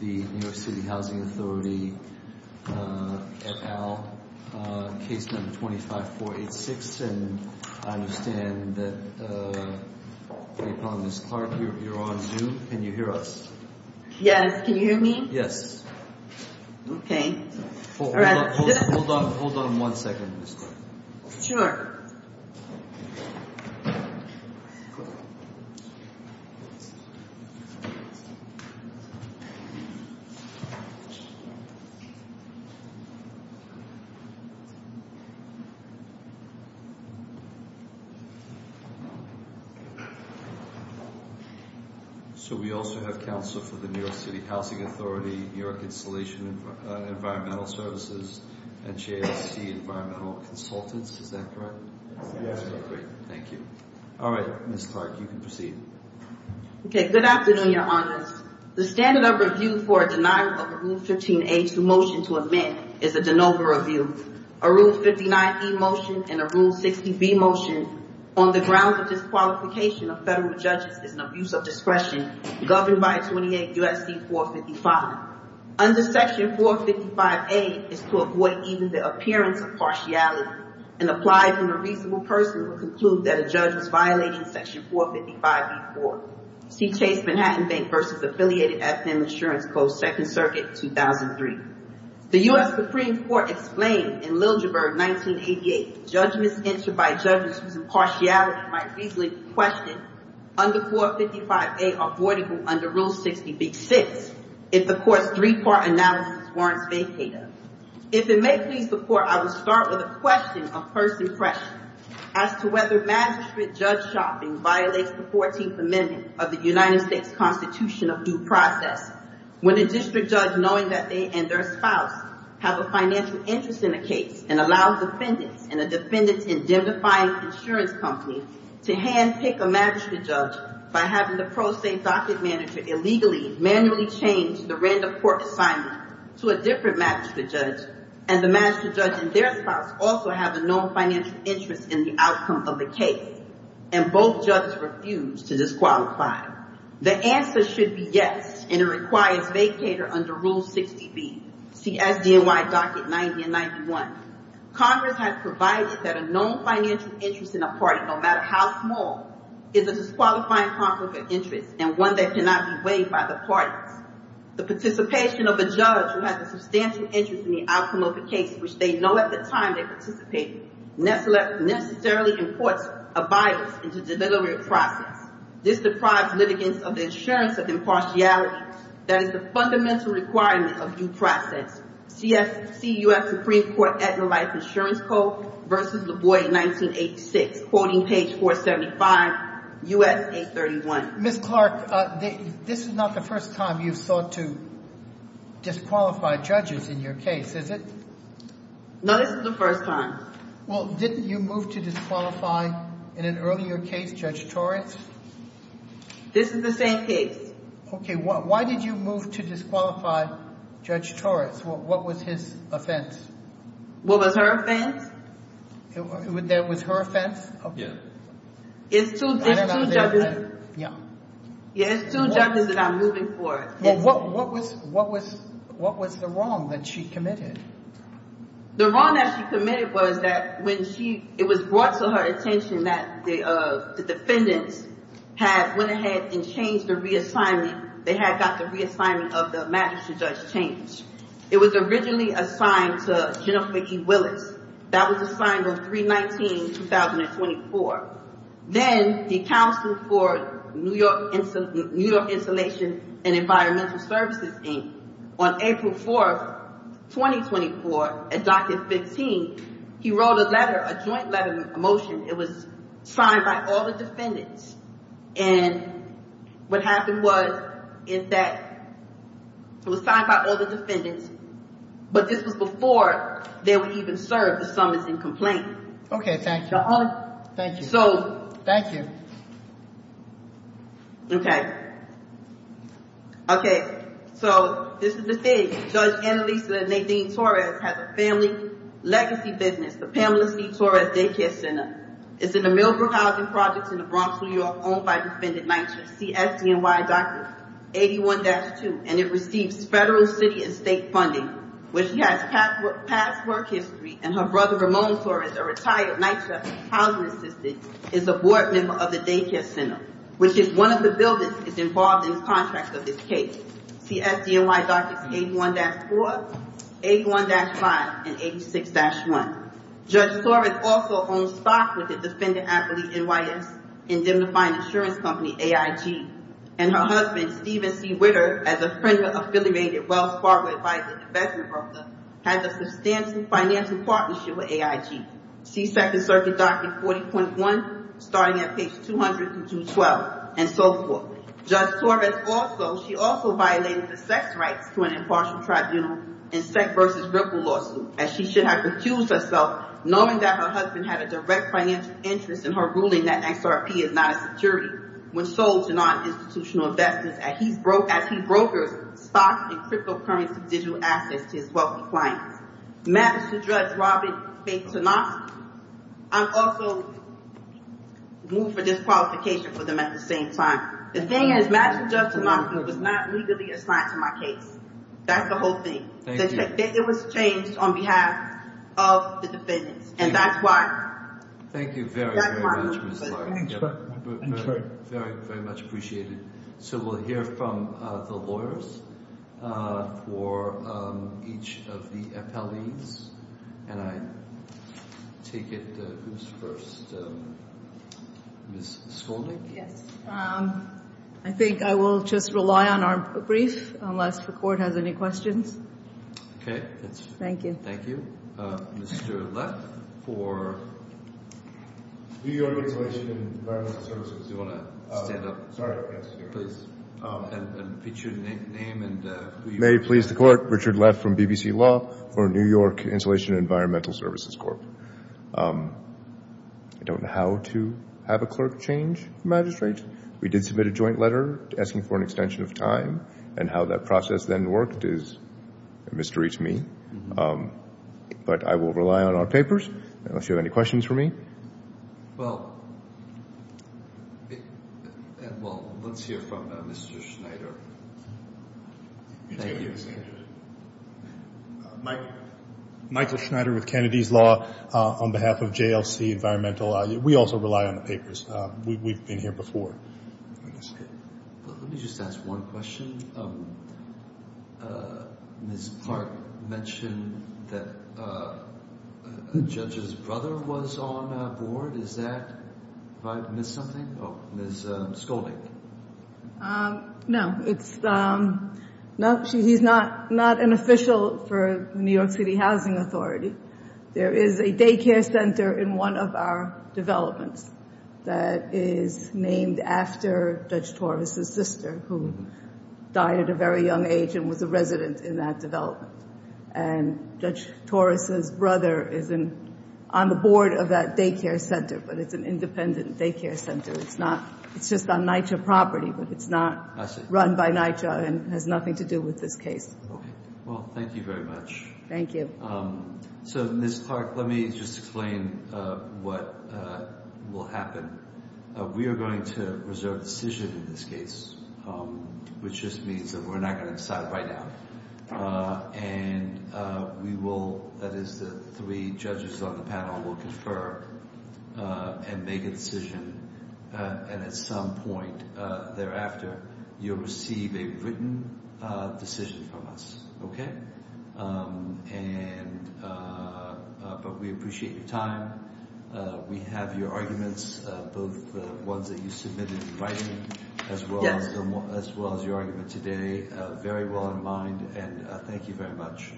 at Al, case number 25486, and I understand that Ms. Clark, you're on Zoom, can you hear us? Yes, can you hear me? Yes. Okay. Hold on one second, Ms. Clark. Sure. So we also have counsel for the New York City Housing Authority, New York Installation and Environmental Services, and JST Environmental Consultants, is that correct? Yes. Great, thank you. All right, Ms. Clark, you can proceed. Okay, good afternoon, Your Honors. The standard of review for a denial of a Rule 15a2 motion to amend is a de novo review. A Rule 59e motion and a Rule 60b motion on the grounds of disqualification of federal judges is an abuse of discretion governed by 28 U.S.C. 455. Under Section 455a is to avoid even the appearance of partiality, and applies when a reasonable person would conclude that a judge was violating Section 455b-4. C. Chase Manhattan Bank v. Affiliated Ethnic Insurance Co. Second Circuit, 2003. The U.S. Supreme Court explained in Liljeburg, 1988, judgments entered by judges whose impartiality might reasonably be questioned under 455a are voidable under Rule 60b-6 if the court's three-part analysis warrants vacata. If it may please the Court, I will start with a question of first impression as to whether magistrate-judge shopping violates the 14th Amendment of the United States Constitution of Due Process. When a district judge, knowing that they and their spouse have a financial interest in a case, and allows defendants and a defendant's indemnifying insurance company to handpick a magistrate judge by having the pro se docket manager illegally, manually change the random court assignment to a different magistrate judge, and the magistrate judge and their spouse also have a known financial interest in the outcome of the case, and both judges refuse to disqualify. The answer should be yes, and it requires vacata under Rule 60b, C.S.D.N.Y. Docket 90 and 91. Congress has provided that a known financial interest in a party, no matter how small, is a disqualifying conflict of interest and one that cannot be weighed by the parties. The participation of a judge who has a substantial interest in the outcome of a case, which they know at the time they participated, necessarily imports a violence into deliberate process. This deprives litigants of the insurance of impartiality that is the fundamental requirement of due process. C.S.C. U.S. Supreme Court Adler Life Insurance Code v. LaVoy, 1986, quoting page 475, U.S. 831. Ms. Clark, this is not the first time you've sought to disqualify judges in your case, is it? No, this is the first time. Well, didn't you move to disqualify, in an earlier case, Judge Torres? This is the same case. Okay, why did you move to disqualify Judge Torres? What was his offense? What was her offense? That was her offense? Yeah. It's two judges. Yeah. Yeah, it's two judges that I'm moving for. What was the wrong that she committed? The wrong that she committed was that when she, it was brought to her attention that the defendants had went ahead and changed the reassignment, they had got the reassignment of the magistrate judge changed. It was originally assigned to Jennifer E. Willis. That was assigned on 3-19-2024. Then, the Council for New York Insulation and Environmental Services, Inc., on April 4, 2024, at Docket 15, he wrote a letter, a joint letter, a motion. It was signed by all the defendants. And what happened was, in fact, it was signed by all the defendants, but this was before they were even served the summons and complaint. Okay, thank you. Thank you. So. Thank you. Okay. Okay, so this is the thing. Judge Annalisa Nadine Torres has a family legacy business, the Pamela C. Torres Daycare Center. It's in the Millbrook Housing Projects in the Bronx, New York, owned by Defendant Nitra, CSDNY Doctrine 81-2. And it receives federal, city, and state funding. Where she has past work history, and her brother Ramon Torres, a retired Nitra housing assistant, is a board member of the daycare center, which is one of the buildings that's involved in the contract of this case. CSDNY Doctrine 81-4, 81-5, and 86-1. Judge Torres also owns stock with the defendant's affiliate, NYS, Indemnifying Insurance Company, AIG. And her husband, Steven C. Whitter, as a friend and affiliated Wells Fargo advisor to Vesna Bruckner, has a substantial financial partnership with AIG. CSEC and Circuit Doctrine 40.1, starting at page 200 through 212, and so forth. Judge Torres also, she also violated the sex rights to an impartial tribunal in SEC v. Ripple lawsuit, as she should have recused herself, knowing that her husband had a direct financial interest in her ruling that XRP is not a security. When sold to non-institutional investments, as he brokers stock and cryptocurrency digital assets to his wealthy clients. Matters to Judge Robert F. Tanofsky, I'm also moved for disqualification for them at the same time. The thing is, matters to Judge Tanofsky was not legally assigned to my case. That's the whole thing. Thank you. It was changed on behalf of the defendants, and that's why. Thank you very, very much, Ms. Clark. Thank you. Very, very much appreciated. So we'll hear from the lawyers for each of the appellees. And I take it who's first? Ms. Skolnik? Yes. I think I will just rely on our brief, unless the court has any questions. Okay. Thank you. Thank you. Mr. Leff for? New York Installation and Environmental Services. Do you want to stand up? Sorry, yes. Please. And pitch your name and who you are. May it please the court, Richard Leff from BBC Law for New York Installation and Environmental Services Corp. I don't know how to have a clerk change a magistrate. We did submit a joint letter asking for an extension of time, and how that process then worked is a mystery to me. But I will rely on our papers, unless you have any questions for me. Well, let's hear from Mr. Schneider. Thank you. Michael Schneider with Kennedy's Law on behalf of JLC Environmental. We also rely on the papers. We've been here before. Let me just ask one question. Ms. Clark mentioned that a judge's brother was on board. Is that right? Did I miss something? Oh, Ms. Skolnik. No, he's not an official for the New York City Housing Authority. There is a daycare center in one of our developments that is named after Judge Torres' sister, who died at a very young age and was a resident in that development. And Judge Torres' brother is on the board of that daycare center, but it's an independent daycare center. It's just on NYCHA property, but it's not run by NYCHA and has nothing to do with this case. Okay. Well, thank you very much. Thank you. So, Ms. Clark, let me just explain what will happen. We are going to reserve a decision in this case, which just means that we're not going to decide right now. And we will—that is, the three judges on the panel will confer and make a decision. And at some point thereafter, you'll receive a written decision from us, okay? And—but we appreciate your time. We have your arguments, both the ones that you submitted in writing as well as your argument today, very well in mind. And thank you very much.